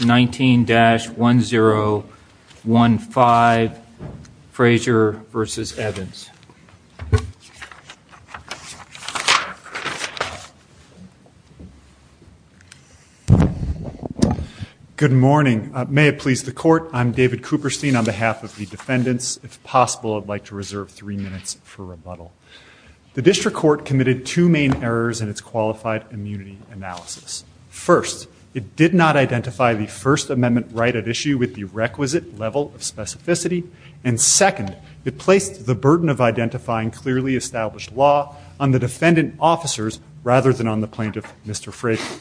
19-1015 Frasier v. Evans Good morning. May it please the Court, I'm David Cooperstein on behalf of the defendants. If possible, I'd like to reserve three minutes for rebuttal. The District Court committed two main errors in its qualified immunity analysis. First, it did not identify the First Amendment right at issue with the requisite level of specificity. And second, it placed the burden of identifying clearly established law on the defendant officers rather than on the plaintiff, Mr. Frasier.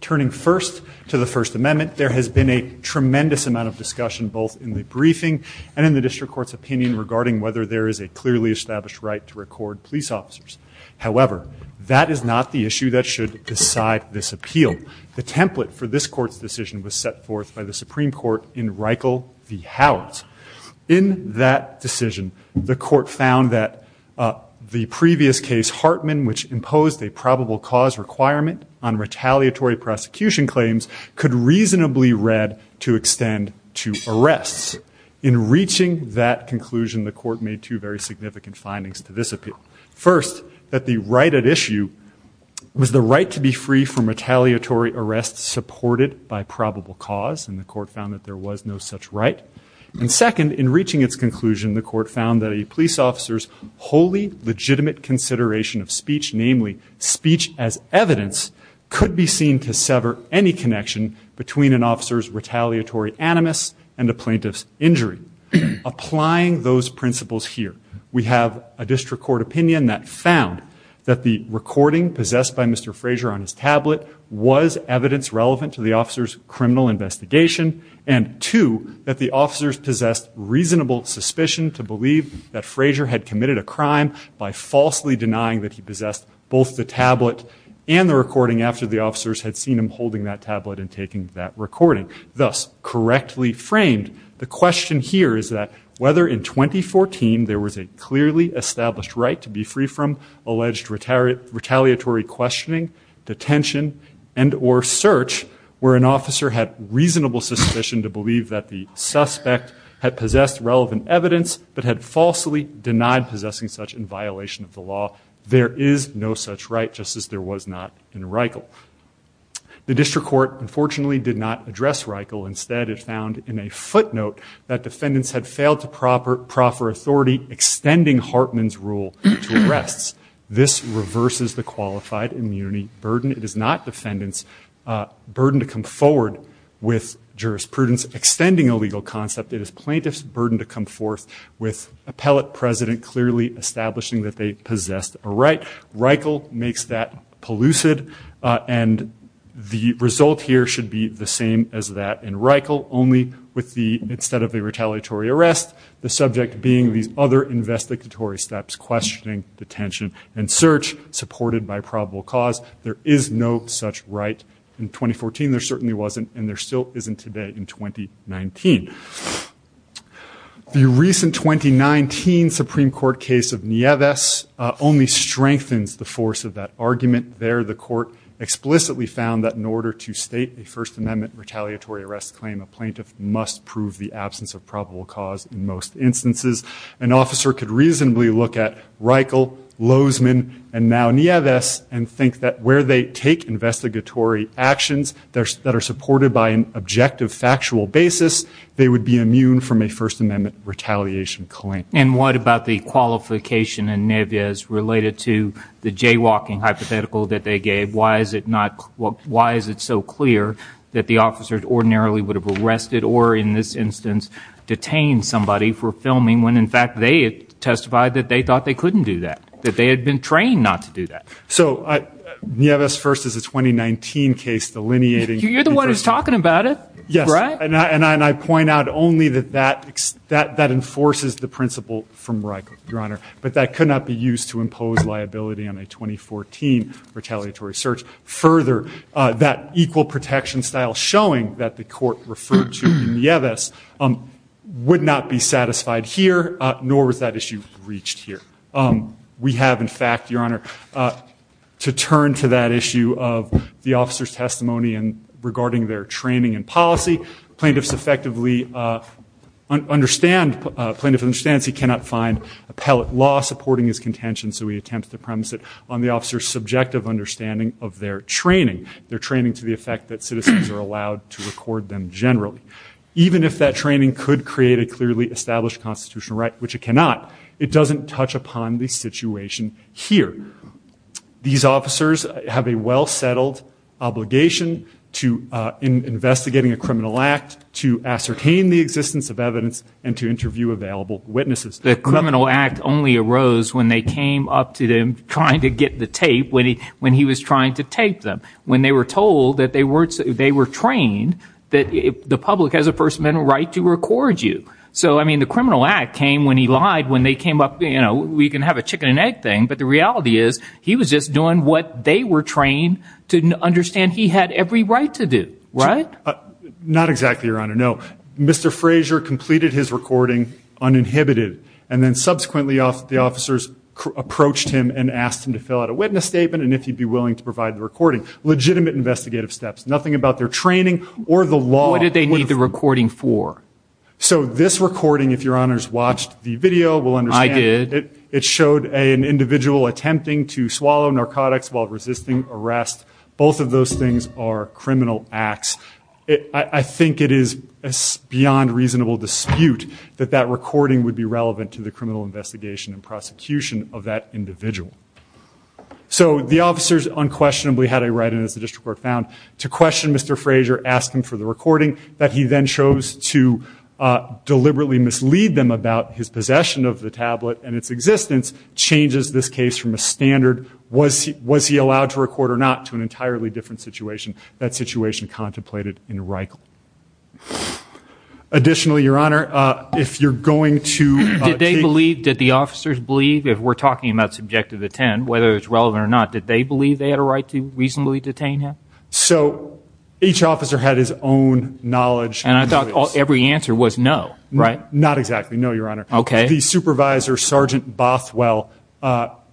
Turning first to the First Amendment, there has been a tremendous amount of discussion both in the briefing and in the District Court's opinion regarding whether there is a clearly established right to record police officers. However, that is not the issue that should decide this appeal. The template for this court's decision was set forth by the Supreme Court in Reichel v. Howard's. In that decision, the court found that the previous case Hartman, which imposed a probable cause requirement on retaliatory prosecution claims, could reasonably read to extend to arrests. In reaching that conclusion, the court made two very significant findings to this appeal. First, that the right at issue was the right to be free from retaliatory arrests supported by probable cause. And the court found that there was no such right. And second, in reaching its conclusion, the court found that a police officer's wholly legitimate consideration of speech, namely speech as evidence, could be seen to sever any connection between an officer's retaliatory animus and a plaintiff's injury. Applying those principles here, we have a district court opinion that found that the recording possessed by Mr. Frazier on his tablet was evidence relevant to the officer's criminal investigation. And two, that the officers possessed reasonable suspicion to believe that Frazier had committed a crime by falsely denying that he possessed both the tablet and the recording after the officers had seen him holding that tablet and taking that recording. Thus, correctly framed, the question here is that whether in 2014, there was a clearly established right to be free from alleged retaliatory questioning, detention, and or search where an officer had reasonable suspicion to believe that the suspect had possessed relevant evidence but had falsely denied possessing such in violation of the law. There is no such right, just as there was not in Reichle. The district court, unfortunately, did not address Reichle. Instead, it found in a footnote that defendants had failed to proffer authority extending Hartman's rule to arrests. This reverses the qualified immunity burden. It is not defendants' burden to come forward with jurisprudence extending a legal concept. It is plaintiff's burden to come forth with appellate president clearly establishing that they possessed a right. Reichle makes that polluted and the result here should be the same as that in Reichle, only with the, instead of a retaliatory arrest, the subject being these other investigatory steps, questioning, detention, and search, supported by probable cause. There is no such right in 2014. There certainly wasn't, and there still isn't today in 2019. The recent 2019 Supreme Court case of Nieves only strengthens the force of that argument. There, the court explicitly found that in order to state a First Amendment retaliatory arrest claim, a plaintiff must prove the absence of probable cause in most instances. An officer could reasonably look at Reichle, Lozman, and now Nieves, and think that where they take investigatory actions that are supported by an objective, factual basis, they would be immune from a First Amendment retaliation claim. And what about the qualification in Nieves related to the jaywalking hypothetical that they gave? Why is it not, why is it so clear that the officer ordinarily would have arrested or in this instance detained somebody for filming when in fact they had testified that they thought they couldn't do that? That they had been trained not to do that? So, Nieves first is a 2019 case delineating. You're the one who's talking about it. And I point out only that that enforces the principle from Reichle, Your Honor. But that could not be used to impose liability on a 2014 retaliatory search. Further, that equal protection style showing that the court referred to Nieves would not be satisfied here, nor was that issue reached here. We have, in fact, Your Honor, to turn to that issue of the officer's testimony and regarding their training and policy, plaintiffs effectively understand, plaintiff understands he cannot find appellate law supporting his contention, so we attempt to premise it on the officer's subjective understanding of their training. Their training to the effect that citizens are allowed to record them generally. Even if that training could create a clearly established constitutional right, which it cannot, it doesn't touch upon the situation here. These officers have a well-settled obligation to, in investigating a criminal act, to ascertain the existence of evidence and to interview available witnesses. The criminal act only arose when they came up to them trying to get the tape, when he was trying to tape them. When they were told that they were trained that the public has a first amendment right to record you. So, I mean, the criminal act came when he lied, when they came up, we can have a chicken and egg thing, but the reality is, he was just doing what they were trained to understand he had every right to do, right? Not exactly, Your Honor, no. Mr. Frazier completed his recording uninhibited, and then subsequently the officers approached him and asked him to fill out a witness statement and if he'd be willing to provide the recording. Legitimate investigative steps, nothing about their training or the law. What did they need the recording for? So this recording, if Your Honor's watched the video, will understand. It showed an individual attempting to swallow narcotics while resisting arrest. Both of those things are criminal acts. I think it is beyond reasonable dispute that that recording would be relevant to the criminal investigation and prosecution of that individual. So the officers unquestionably had a right, and as the district court found, to question Mr. Frazier, ask him for the recording, that he then chose to His possession of the tablet and its existence changes this case from a standard, was he allowed to record or not, to an entirely different situation. That situation contemplated in Reichel. Additionally, Your Honor, if you're going to- Did they believe, did the officers believe, if we're talking about subjective intent, whether it's relevant or not, did they believe they had a right to reasonably detain him? So each officer had his own knowledge. And I thought every answer was no, right? Not exactly, no, Your Honor. Okay. The supervisor, Sergeant Bothwell,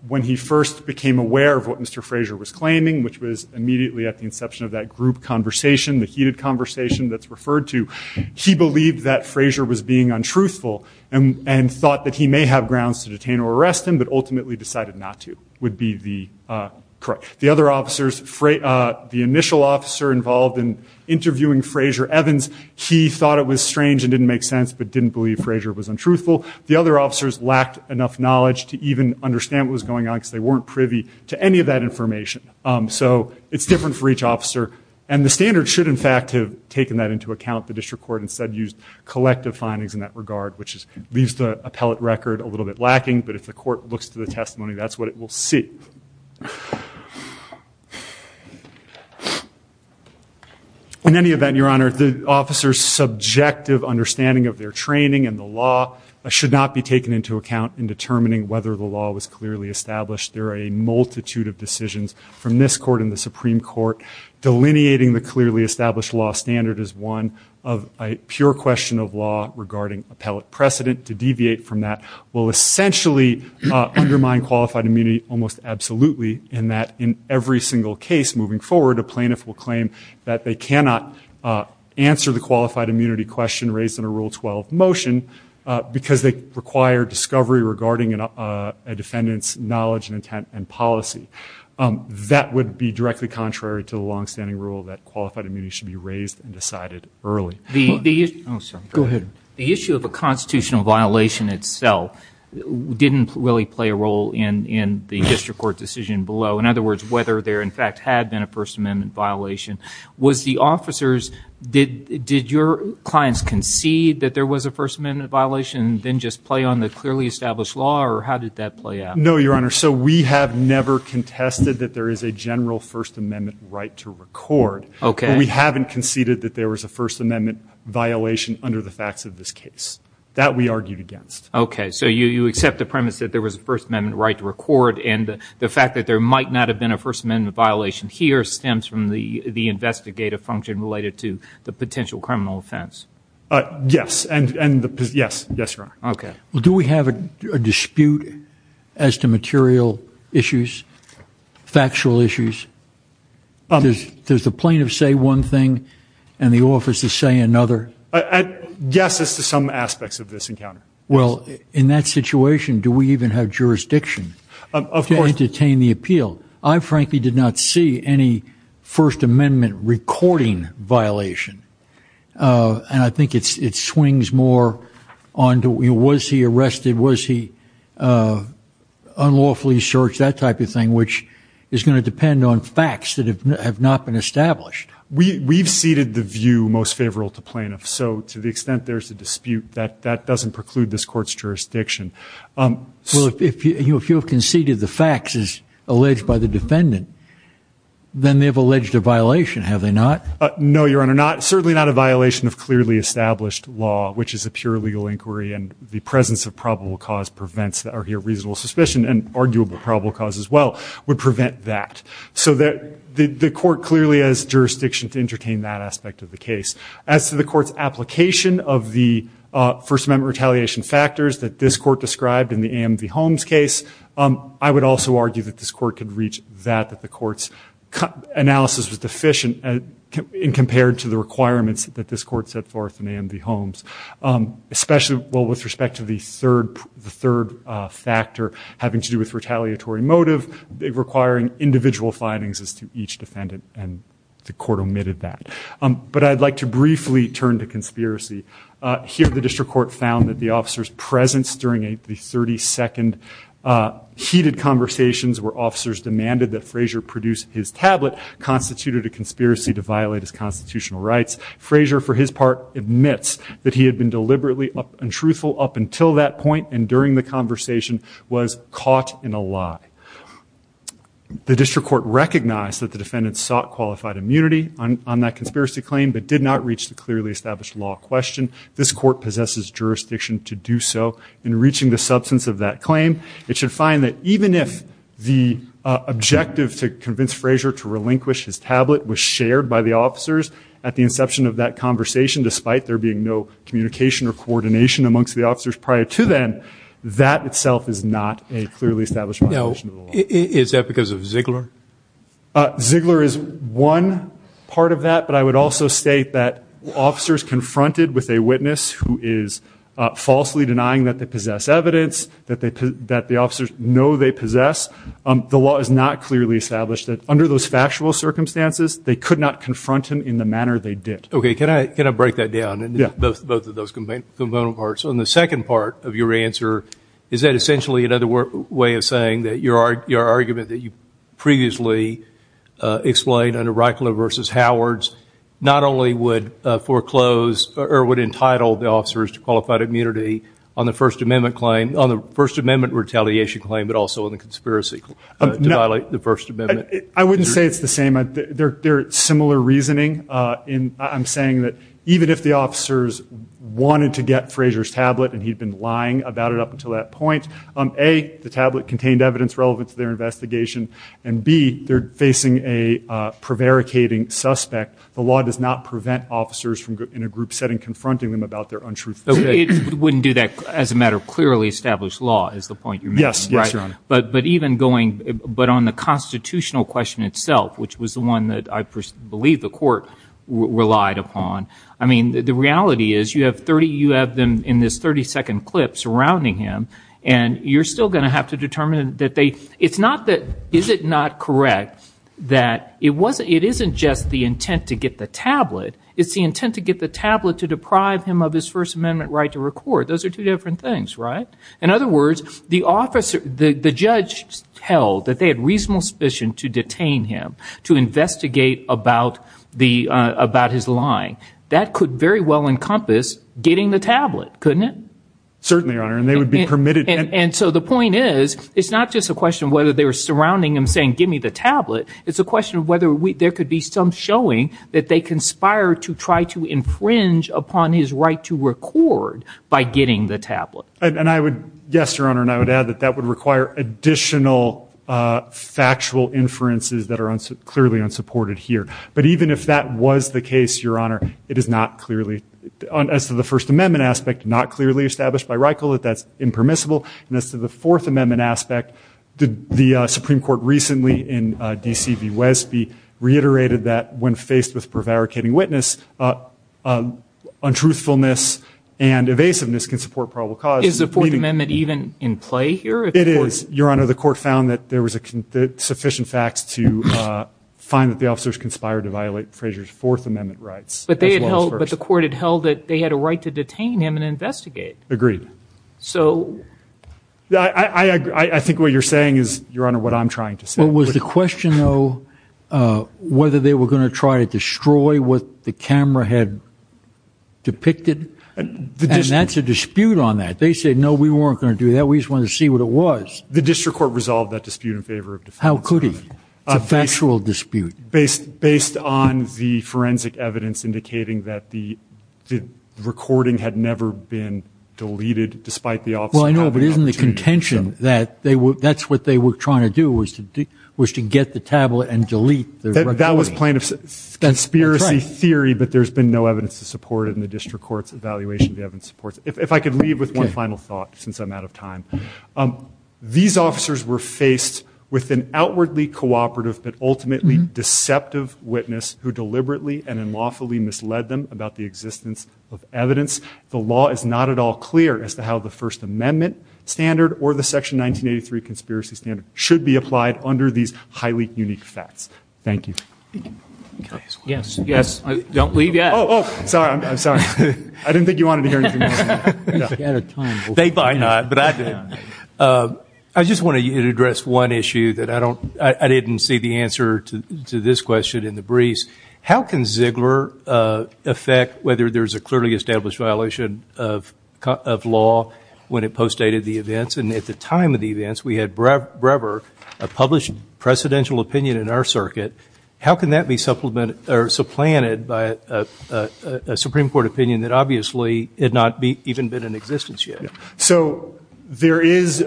when he first became aware of what Mr. Frazier was claiming, which was immediately at the inception of that group conversation, the heated conversation that's referred to, he believed that Frazier was being untruthful. And thought that he may have grounds to detain or arrest him, but ultimately decided not to, would be the correct. The other officers, the initial officer involved in interviewing Frazier Evans, he thought it was strange and didn't make sense, but didn't believe Frazier was untruthful. The other officers lacked enough knowledge to even understand what was going on, because they weren't privy to any of that information. So it's different for each officer. And the standard should, in fact, have taken that into account. The district court instead used collective findings in that regard, which leaves the appellate record a little bit lacking. But if the court looks to the testimony, that's what it will see. In any event, Your Honor, the officer's subjective understanding of their training and the law should not be taken into account in determining whether the law was clearly established. There are a multitude of decisions from this court and the Supreme Court. Delineating the clearly established law standard is one of a pure question of law regarding appellate precedent. To deviate from that will essentially undermine qualified immunity almost absolutely in that in every single case moving forward, a plaintiff will claim that they cannot answer the qualified immunity question raised in a Rule 12 motion. Because they require discovery regarding a defendant's knowledge and intent and policy. That would be directly contrary to the long standing rule that qualified immunity should be raised and decided early. Go ahead. The issue of a constitutional violation itself didn't really play a role in the district court decision below. In other words, whether there in fact had been a First Amendment violation. Was the officers, did your clients concede that there was a First Amendment violation? Then just play on the clearly established law or how did that play out? No, Your Honor. So we have never contested that there is a general First Amendment right to record. Okay. We haven't conceded that there was a First Amendment violation under the facts of this case. That we argued against. Okay, so you accept the premise that there was a First Amendment right to record and the fact that there might not have been a First Amendment violation here stems from the investigative function related to the potential criminal offense. Yes, and the, yes, yes, Your Honor. Okay. Well, do we have a dispute as to material issues? Factual issues? Does the plaintiff say one thing and the officers say another? Yes, as to some aspects of this encounter. Well, in that situation, do we even have jurisdiction to entertain the appeal? I frankly did not see any First Amendment recording violation. And I think it swings more on to was he arrested? Was he unlawfully searched? That type of thing, which is going to depend on facts that have not been established. We've ceded the view most favorable to plaintiffs. So to the extent there's a dispute, that doesn't preclude this court's jurisdiction. Well, if you have conceded the facts as alleged by the defendant, then they have alleged a violation, have they not? No, Your Honor, certainly not a violation of clearly established law, which is a pure legal inquiry and the presence of probable cause prevents that are here reasonable suspicion and arguable probable cause as well would prevent that. So the court clearly has jurisdiction to entertain that aspect of the case. As to the court's application of the First Amendment retaliation factors that this court described in the AMV Holmes case, I would also argue that this court could reach that, that the court's analysis was deficient in compared to the requirements that this court set forth in AMV Holmes. Especially, well, with respect to the third factor having to do with retaliatory motive, requiring individual findings as to each defendant, and the court omitted that. But I'd like to briefly turn to conspiracy. Here, the district court found that the officer's presence during the 32nd heated conversations where officers demanded that Frazier produce his tablet constituted a conspiracy to violate his constitutional rights. Frazier, for his part, admits that he had been deliberately untruthful up until that point and during the conversation was caught in a lie. The district court recognized that the defendant sought qualified immunity on that conspiracy claim but did not reach the clearly established law question. This court possesses jurisdiction to do so in reaching the substance of that claim. It should find that even if the objective to convince Frazier to relinquish his tablet was shared by the officers at the inception of that conversation, despite there being no communication or coordination amongst the officers prior to then, that itself is not a clearly established violation of the law. Is that because of Ziegler? Ziegler is one part of that, but I would also state that officers confronted with a witness who is falsely denying that they possess evidence, that the officers know they possess, the law is not clearly established that under those factual circumstances, they could not confront him in the manner they did. Okay, can I break that down, both of those component parts? On the second part of your answer, is that essentially another way of saying that your argument that you previously explained under Reichler versus Howard's not only would foreclose or would entitle the officers to qualified immunity on the First Amendment claim, on the First Amendment retaliation claim, but also on the conspiracy to violate the First Amendment? I wouldn't say it's the same. They're similar reasoning. I'm saying that even if the officers wanted to get Frazier's tablet and he'd been lying about it up until that point, A, the tablet contained evidence relevant to their investigation, and B, they're facing a prevaricating suspect, the law does not prevent officers in a group setting confronting them about their untruth. It wouldn't do that as a matter of clearly established law is the point you're making, right? Yes, Your Honor. But even going, but on the constitutional question itself, which was the one that I believe the court relied upon, I mean, the reality is you have them in this 30-second clip surrounding him, and you're still going to have to determine that they, it's not that, is it not correct that it wasn't, it isn't just the intent to get the tablet, it's the intent to get the tablet to deprive him of his First Amendment right to record. Those are two different things, right? In other words, the judge held that they had reasonable suspicion to detain him, to investigate about his lying. That could very well encompass getting the tablet, couldn't it? Certainly, Your Honor, and they would be permitted. And so the point is, it's not just a question of whether they were surrounding him saying, give me the tablet, it's a question of whether there could be some showing that they conspired to try to infringe upon his right to record by getting the tablet. And I would, yes, Your Honor, and I would add that that would require additional factual inferences that are clearly unsupported here. But even if that was the case, Your Honor, it is not clearly, as to the First Amendment aspect, not clearly established by Reichle that that's impermissible, and as to the Fourth Amendment aspect, the Supreme Court recently in D.C. v. Wesby reiterated that when faced with prevaricating witness, untruthfulness and evasiveness can support probable cause. Is the Fourth Amendment even in play here? It is, Your Honor. The court found that there was sufficient facts to find that the officers conspired to violate Frazier's Fourth Amendment rights. But they had held, but the court had held that they had a right to detain him and investigate. Agreed. So? I think what you're saying is, Your Honor, what I'm trying to say. But was the question, though, whether they were going to try to destroy what the camera had depicted? And that's a dispute on that. They said, no, we weren't going to do that. We just wanted to see what it was. The district court resolved that dispute in favor of defense. How could he? It's a factual dispute. Based on the forensic evidence indicating that the recording had never been deleted, despite the officer having the opportunity to do so. Well, I know, but isn't the contention that that's what they were trying to do, was to get the tablet and delete the recording? That was plaintiff's conspiracy theory. But there's been no evidence to support it in the district court's evaluation. The evidence supports it. If I could leave with one final thought, since I'm out of time. These officers were faced with an outwardly cooperative, but ultimately deceptive witness who deliberately and unlawfully misled them about the existence of evidence. The law is not at all clear as to how the First Amendment standard or the Section 1983 conspiracy standard should be applied under these highly unique facts. Thank you. Yes, yes. Don't leave yet. Sorry, I'm sorry. I didn't think you wanted to hear anything else. They might not, but I did. I just want to address one issue that I didn't see the answer to this question in the briefs. How can Ziegler affect whether there's a clearly established violation of law when it postdated the events? And at the time of the events, we had Brewer, a published precedential opinion in our circuit. How can that be supplanted by a Supreme Court opinion that obviously had not even been in existence yet? So there is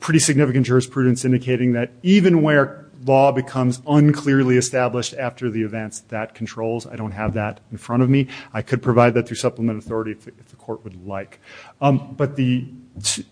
pretty significant jurisprudence indicating that even where law becomes unclearly established after the events, that controls. I don't have that in front of me. I could provide that through supplement authority if the court would like. But the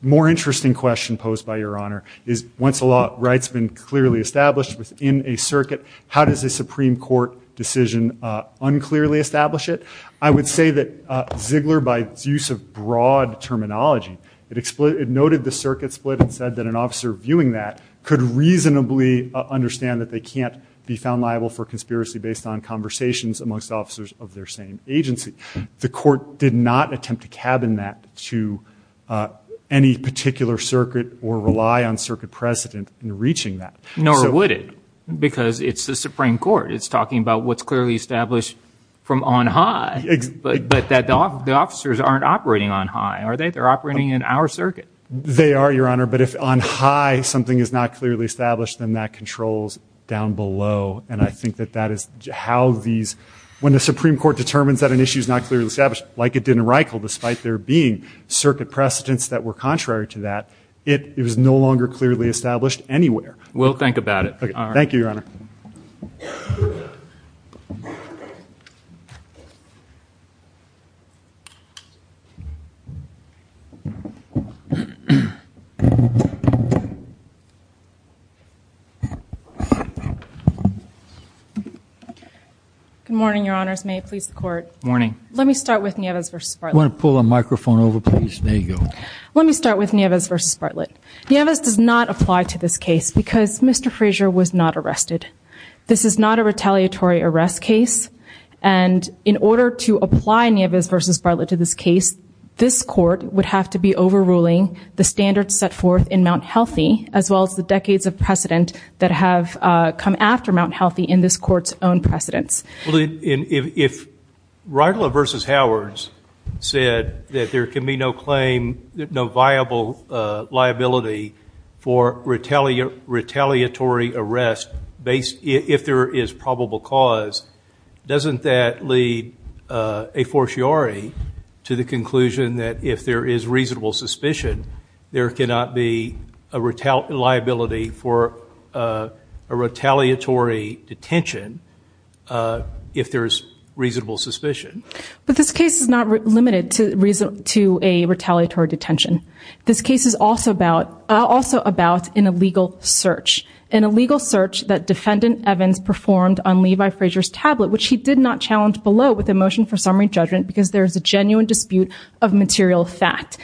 more interesting question posed by Your Honor is once a law right's been clearly established within a circuit, how does a Supreme Court decision unclearly establish it? I would say that Ziegler, by its use of broad terminology, it noted the circuit split and said that an officer viewing that could reasonably understand that they can't be found liable for conspiracy based on conversations amongst officers of their same agency. The court did not attempt to cabin that to any particular circuit or rely on circuit precedent in reaching that. Nor would it because it's the Supreme Court. It's talking about what's clearly established from on high. But that the officers aren't operating on high, are they? They're operating in our circuit. They are, Your Honor. But if on high something is not clearly established, then that controls down below. And I think that that is how these, when the Supreme Court determines that an issue is not clearly established, like it did in Reichel despite there being circuit precedents that were contrary to that, it is no longer clearly established anywhere. We'll think about it. Thank you, Your Honor. Good morning, Your Honors. May it please the Court. Good morning. Let me start with Nieves v. Spartlett. You want to pull the microphone over, please? There you go. Let me start with Nieves v. Spartlett. Nieves does not apply to this case because Mr. Frazier was not arrested. This is not a retaliatory arrest case. And in order to apply Nieves v. Spartlett to this case, this Court would have to be overruling the standards set forth in Mount Healthy as well as the decades of precedent that have come after Mount Healthy in this Court's own precedents. If Reitler v. Howards said that there can be no claim, no viable liability for retaliatory arrest if there is probable cause, doesn't that lead a fortiori to the conclusion that if there is reasonable suspicion, there cannot be a liability for a retaliatory detention if there is reasonable suspicion? But this case is not limited to a retaliatory detention. This case is also about an illegal search, an illegal search that Defendant Evans performed on Levi Frazier's tablet, which he did not challenge below with a motion for summary judgment because there is a genuine dispute of material fact.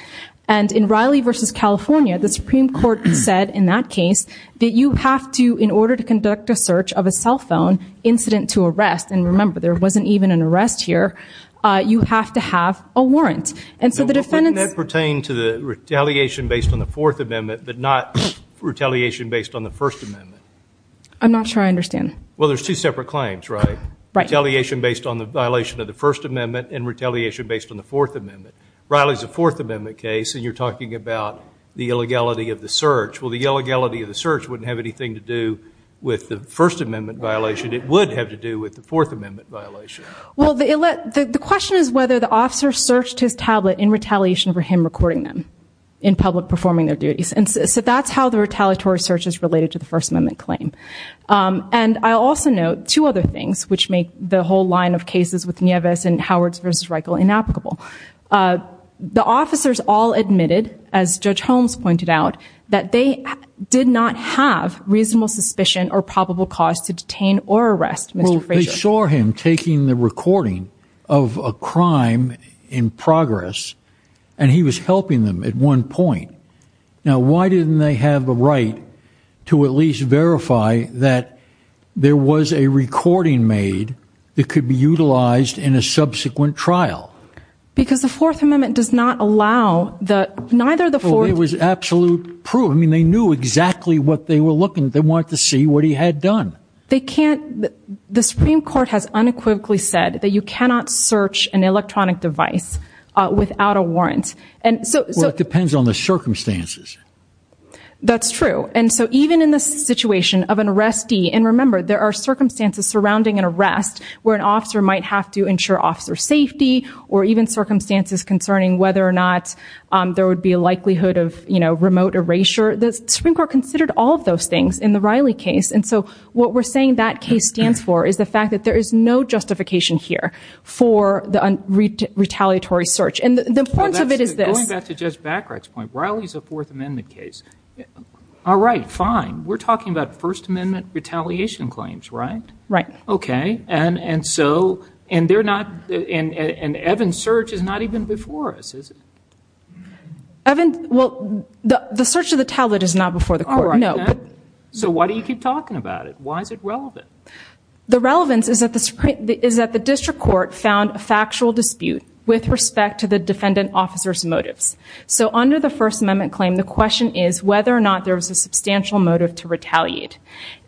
And in Riley v. California, the Supreme Court said in that case that you have to, in order to conduct a search of a cell phone incident to arrest, and remember there wasn't even an arrest here, you have to have a warrant. And so the defendants... Well, wouldn't that pertain to the retaliation based on the Fourth Amendment but not retaliation based on the First Amendment? I'm not sure I understand. Well, there's two separate claims, right? Right. Retaliation based on the violation of the First Amendment and retaliation based on the Fourth Amendment. Riley's a Fourth Amendment case, and you're talking about the illegality of the search. Well, the illegality of the search wouldn't have anything to do with the First Amendment violation. It would have to do with the Fourth Amendment violation. Well, the question is whether the officer searched his tablet in retaliation for him recording them in public performing their duties. And so that's how the retaliatory search is related to the First Amendment claim. And I'll also note two other things, which make the whole line of cases with Nieves and Howards v. Reichel inapplicable. The officers all admitted, as Judge Holmes pointed out, that they did not have reasonable suspicion or probable cause to detain or arrest Mr. Frazier. Well, they saw him taking the recording of a crime in progress, and he was helping them at one point. Now, why didn't they have a right to at least verify that there was a recording made that could be utilized in a subsequent trial? Because the Fourth Amendment does not allow the... Well, it was absolute proof. I mean, they knew exactly what they were looking. They wanted to see what he had done. They can't... The Supreme Court has unequivocally said that you cannot search an electronic device without a warrant. Well, it depends on the circumstances. That's true. And so even in the situation of an arrestee, and remember, there are circumstances surrounding an arrest where an officer might have to ensure officer safety or even circumstances concerning whether or not there would be a likelihood of remote erasure. The Supreme Court considered all of those things in the Riley case. And so what we're saying that case stands for is the fact that there is no justification here for the retaliatory search. And the point of it is this. Going back to Judge Bacharach's point, Riley is a Fourth Amendment case. All right, fine. We're talking about First Amendment retaliation claims, right? Right. Okay. And they're not... And Evan's search is not even before us, is it? Evan... Well, the search of the tablet is not before the court, no. So why do you keep talking about it? Why is it relevant? The relevance is that the district court found a factual dispute with respect to the defendant officer's motives. So under the First Amendment claim, the question is whether or not there was a substantial motive to retaliate.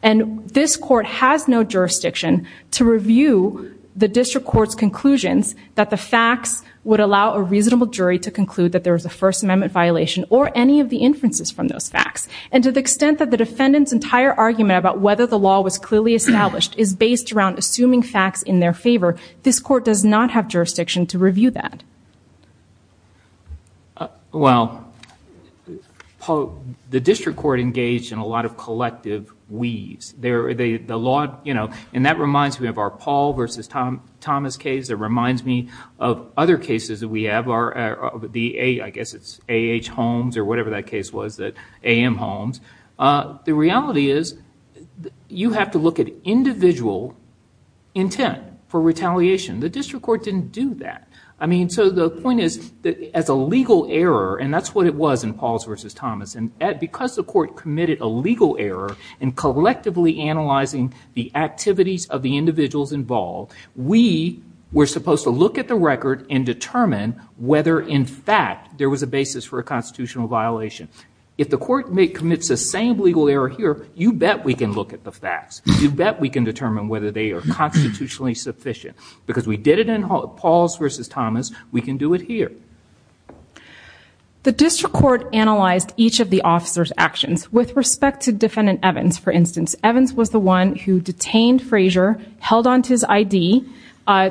And this court has no jurisdiction to review the district court's conclusions that the facts would allow a reasonable jury to conclude that there was a First Amendment violation or any of the inferences from those facts. And to the extent that the defendant's entire argument about whether the law was clearly established is based around assuming facts in their favor, this court does not have jurisdiction to review that. Well, Paul, the district court engaged in a lot of collective weaves. The law, you know, and that reminds me of our Paul versus Thomas case. It reminds me of other cases that we have. I guess it's A.H. Holmes or whatever that case was, A.M. Holmes. The reality is you have to look at individual intent for retaliation. The district court didn't do that. I mean, so the point is that as a legal error, and that's what it was in Paul's versus Thomas, and because the court committed a legal error in collectively analyzing the activities of the individuals involved, we were supposed to look at the record and determine whether in fact there was a basis for a constitutional violation. If the court commits the same legal error here, you bet we can look at the facts. You bet we can determine whether they are constitutionally sufficient because we did it in Paul's versus Thomas. We can do it here. The district court analyzed each of the officer's actions. With respect to Defendant Evans, for instance, Evans was the one who detained Frazier, held onto his I.D.,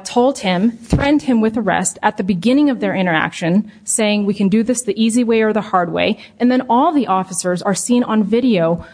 told him, threatened him with arrest at the beginning of their interaction, saying we can do this the easy way or the hard way, and then all the officers are seen on video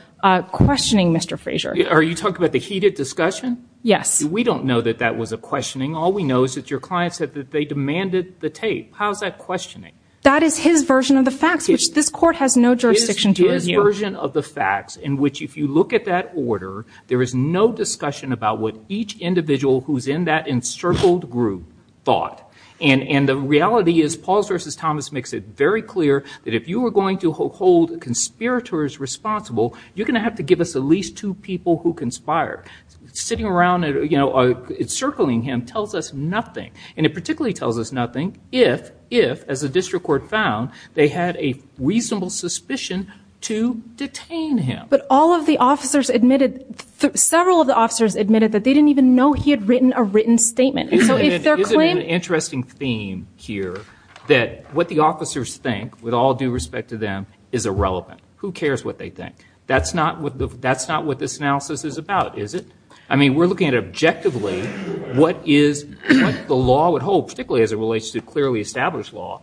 questioning Mr. Frazier. Are you talking about the heated discussion? Yes. We don't know that that was a questioning. All we know is that your client said that they demanded the tape. How is that questioning? That is his version of the facts, which this court has no jurisdiction to review. It is his version of the facts in which if you look at that order, there is no discussion about what each individual who is in that encircled group thought, and the reality is Paul's versus Thomas makes it very clear that if you are going to hold conspirators responsible, you're going to have to give us at least two people who conspired. Sitting around encircling him tells us nothing, and it particularly tells us nothing if, as the district court found, they had a reasonable suspicion to detain him. But several of the officers admitted that they didn't even know he had written a written statement. Isn't it an interesting theme here that what the officers think, with all due respect to them, is irrelevant? Who cares what they think? That's not what this analysis is about, is it? I mean, we're looking at objectively what the law would hold, particularly as it relates to clearly established law.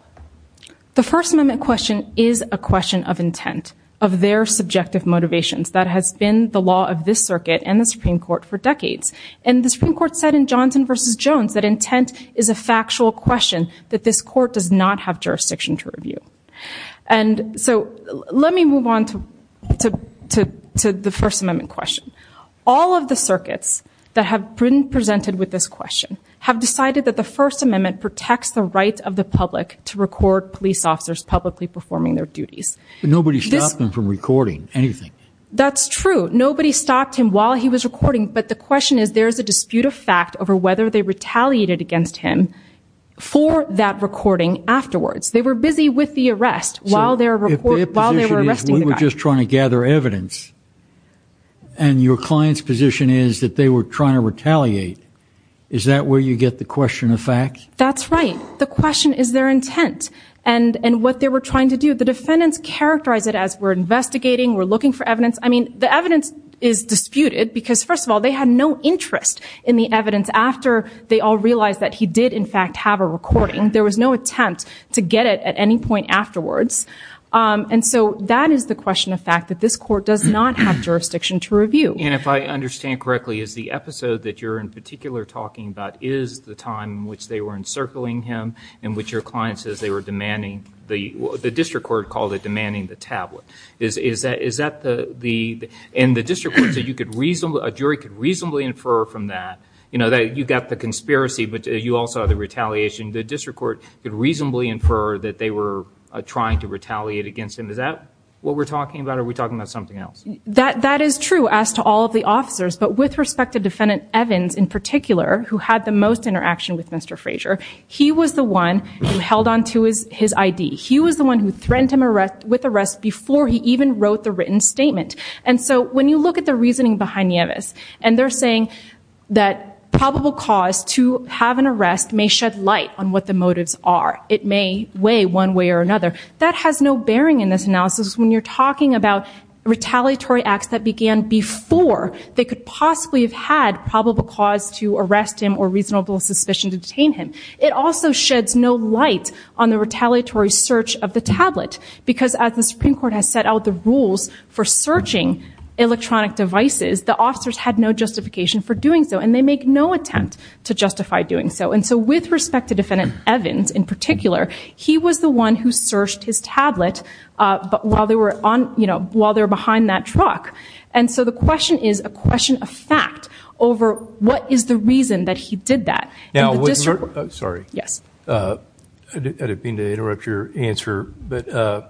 The First Amendment question is a question of intent, of their subjective motivations. That has been the law of this circuit and the Supreme Court for decades, and the Supreme Court said in Johnson versus Jones that intent is a factual question that this court does not have jurisdiction to review. And so let me move on to the First Amendment question. All of the circuits that have been presented with this question have decided that the First Amendment protects the right of the public to record police officers publicly performing their duties. But nobody stopped them from recording anything. That's true. Nobody stopped him while he was recording, but the question is there is a dispute of fact over whether they retaliated against him for that recording afterwards. They were busy with the arrest while they were arresting the guy. So if their position is we were just trying to gather evidence and your client's position is that they were trying to retaliate, is that where you get the question of fact? That's right. The question is their intent and what they were trying to do. The defendants characterize it as we're investigating, we're looking for evidence. I mean, the evidence is disputed because, first of all, they had no interest in the evidence after they all realized that he did, in fact, have a recording. There was no attempt to get it at any point afterwards. And so that is the question of fact, that this court does not have jurisdiction to review. And if I understand correctly, is the episode that you're in particular talking about is the time in which they were encircling him and which your client says they were demanding the district court called it demanding the tablet. And the district court said a jury could reasonably infer from that, you know, that you've got the conspiracy but you also have the retaliation. The district court could reasonably infer that they were trying to retaliate against him. Is that what we're talking about or are we talking about something else? That is true as to all of the officers, but with respect to Defendant Evans in particular, who had the most interaction with Mr. Frazier, he was the one who held on to his ID. He was the one who threatened him with arrest before he even wrote the written statement. And so when you look at the reasoning behind Nieves, and they're saying that probable cause to have an arrest may shed light on what the motives are. It may weigh one way or another. That has no bearing in this analysis when you're talking about retaliatory acts that began before they could possibly have had probable cause to arrest him or reasonable suspicion to detain him. It also sheds no light on the retaliatory search of the tablet because as the Supreme Court has set out the rules for searching electronic devices, the officers had no justification for doing so and they make no attempt to justify doing so. And so with respect to Defendant Evans in particular, he was the one who searched his tablet while they were behind that truck. And so the question is a question of fact over what is the reason that he did that. Now, would you – sorry. Yes. I didn't mean to interrupt your answer, but I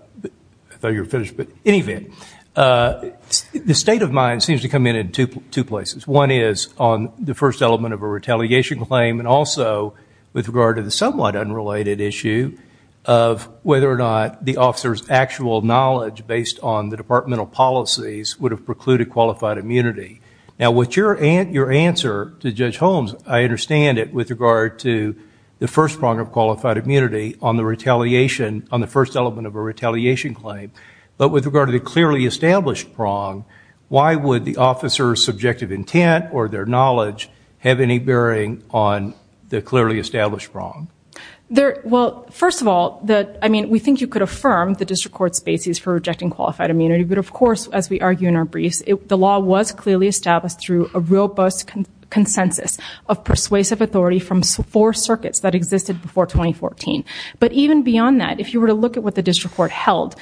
thought you were finished. In any event, the state of mind seems to come in in two places. One is on the first element of a retaliation claim and also with regard to the somewhat unrelated issue of whether or not the officer's actual knowledge based on the departmental policies would have precluded qualified immunity. Now, with your answer to Judge Holmes, I understand it with regard to the first prong of qualified immunity on the retaliation – but with regard to the clearly established prong, why would the officer's subjective intent or their knowledge have any bearing on the clearly established prong? Well, first of all, we think you could affirm the district court's basis for rejecting qualified immunity, but of course, as we argue in our briefs, the law was clearly established through a robust consensus of persuasive authority from four circuits that existed before 2014. But even beyond that, if you were to look at what the district court held,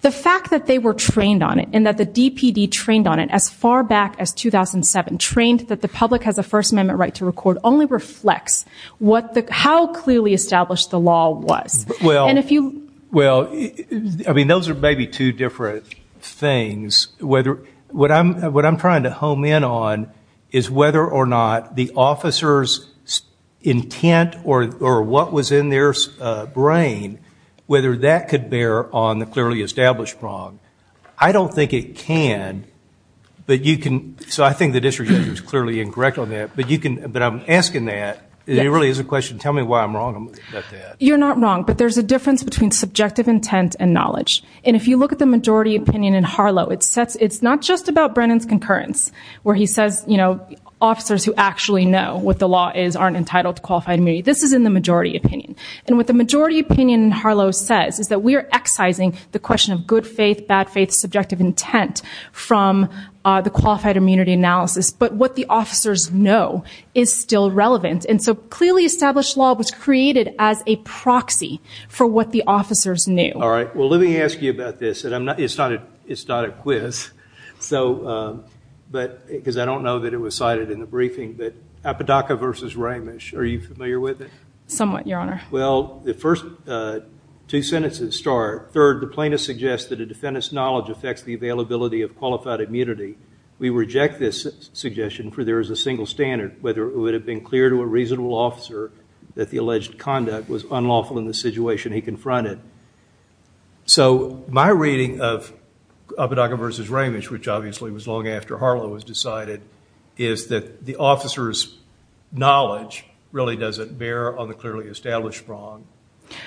the fact that they were trained on it and that the DPD trained on it as far back as 2007, trained that the public has a First Amendment right to record, only reflects how clearly established the law was. Well, I mean, those are maybe two different things. What I'm trying to home in on is whether or not the officer's intent or what was in their brain, whether that could bear on the clearly established prong. I don't think it can. So I think the district judge was clearly incorrect on that, but I'm asking that. It really is a question. Tell me why I'm wrong about that. You're not wrong, but there's a difference between subjective intent and knowledge. And if you look at the majority opinion in Harlow, it's not just about Brennan's concurrence, where he says officers who actually know what the law is aren't entitled to qualified immunity. This is in the majority opinion. And what the majority opinion in Harlow says is that we are excising the question of good faith, bad faith, subjective intent from the qualified immunity analysis, but what the officers know is still relevant. And so clearly established law was created as a proxy for what the officers knew. All right. Well, let me ask you about this. It's not a quiz, because I don't know that it was cited in the briefing, but Apodaca versus Ramish, are you familiar with it? Somewhat, Your Honor. Well, the first two sentences start, third, the plaintiff suggests that a defendant's knowledge affects the availability of qualified immunity. We reject this suggestion, for there is a single standard, whether it would have been clear to a reasonable officer that the alleged conduct was unlawful in the situation he confronted. So my reading of Apodaca versus Ramish, which obviously was long after Harlow was decided, is that the officer's knowledge really doesn't bear on the clearly established wrong.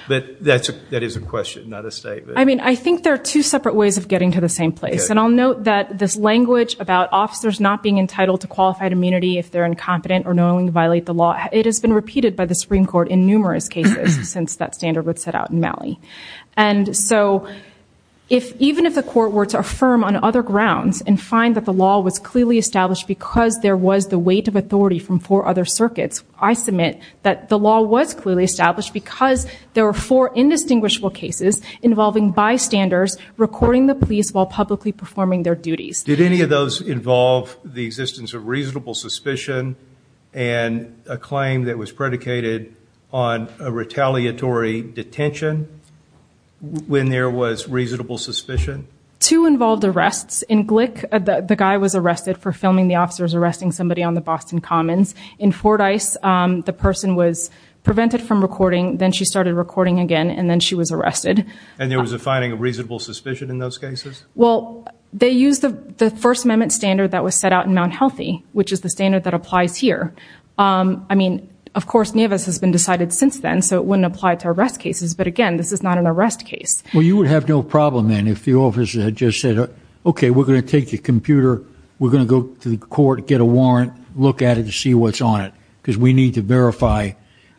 But that is a question, not a statement. I mean, I think there are two separate ways of getting to the same place. And I'll note that this language about officers not being entitled to qualified immunity if they're incompetent or knowingly violate the law, it has been repeated by the Supreme Court in numerous cases since that standard was set out in Malley. And so even if the court were to affirm on other grounds and find that the law was clearly established because there was the weight of authority from four other circuits, I submit that the law was clearly established because there were four indistinguishable cases involving bystanders recording the police while publicly performing their duties. Did any of those involve the existence of reasonable suspicion and a claim that was predicated on a retaliatory detention when there was reasonable suspicion? Two involved arrests. In Glick, the guy was arrested for filming the officers arresting somebody on the Boston Commons. In Fordyce, the person was prevented from recording, then she started recording again, and then she was arrested. And there was a finding of reasonable suspicion in those cases? Well, they used the First Amendment standard that was set out in Mount Healthy, which is the standard that applies here. I mean, of course, Nevis has been decided since then, so it wouldn't apply to arrest cases. But again, this is not an arrest case. Well, you would have no problem then if the officer had just said, OK, we're going to take your computer, we're going to go to the court, get a warrant, look at it, see what's on it because we need to verify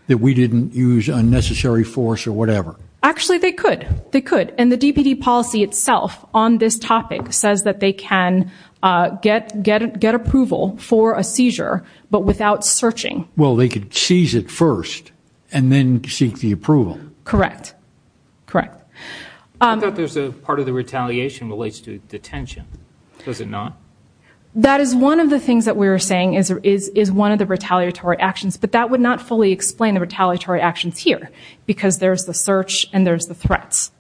that we didn't use unnecessary force or whatever. Actually, they could. They could. And the DPD policy itself on this topic says that they can get approval for a seizure but without searching. Well, they could seize it first and then seek the approval. Correct. Correct. I thought there was a part of the retaliation that relates to detention. Does it not? That is one of the things that we were saying is one of the retaliatory actions, but that would not fully explain the retaliatory actions here because there's the search and there's the threats.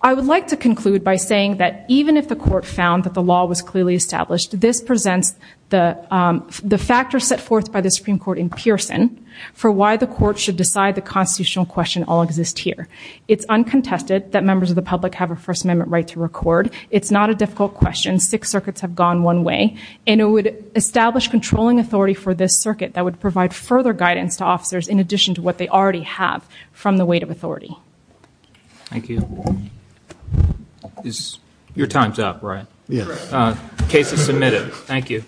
I would like to conclude by saying that even if the court found that the law was clearly established, this presents the factors set forth by the Supreme Court in Pearson for why the court should decide the constitutional question all exist here. It's uncontested that members of the public have a First Amendment right to record. It's not a difficult question. Six circuits have gone one way. And it would establish controlling authority for this circuit that would provide further guidance to officers in addition to what they already have from the weight of authority. Thank you. Your time's up, right? Yes. Case is submitted. Thank you.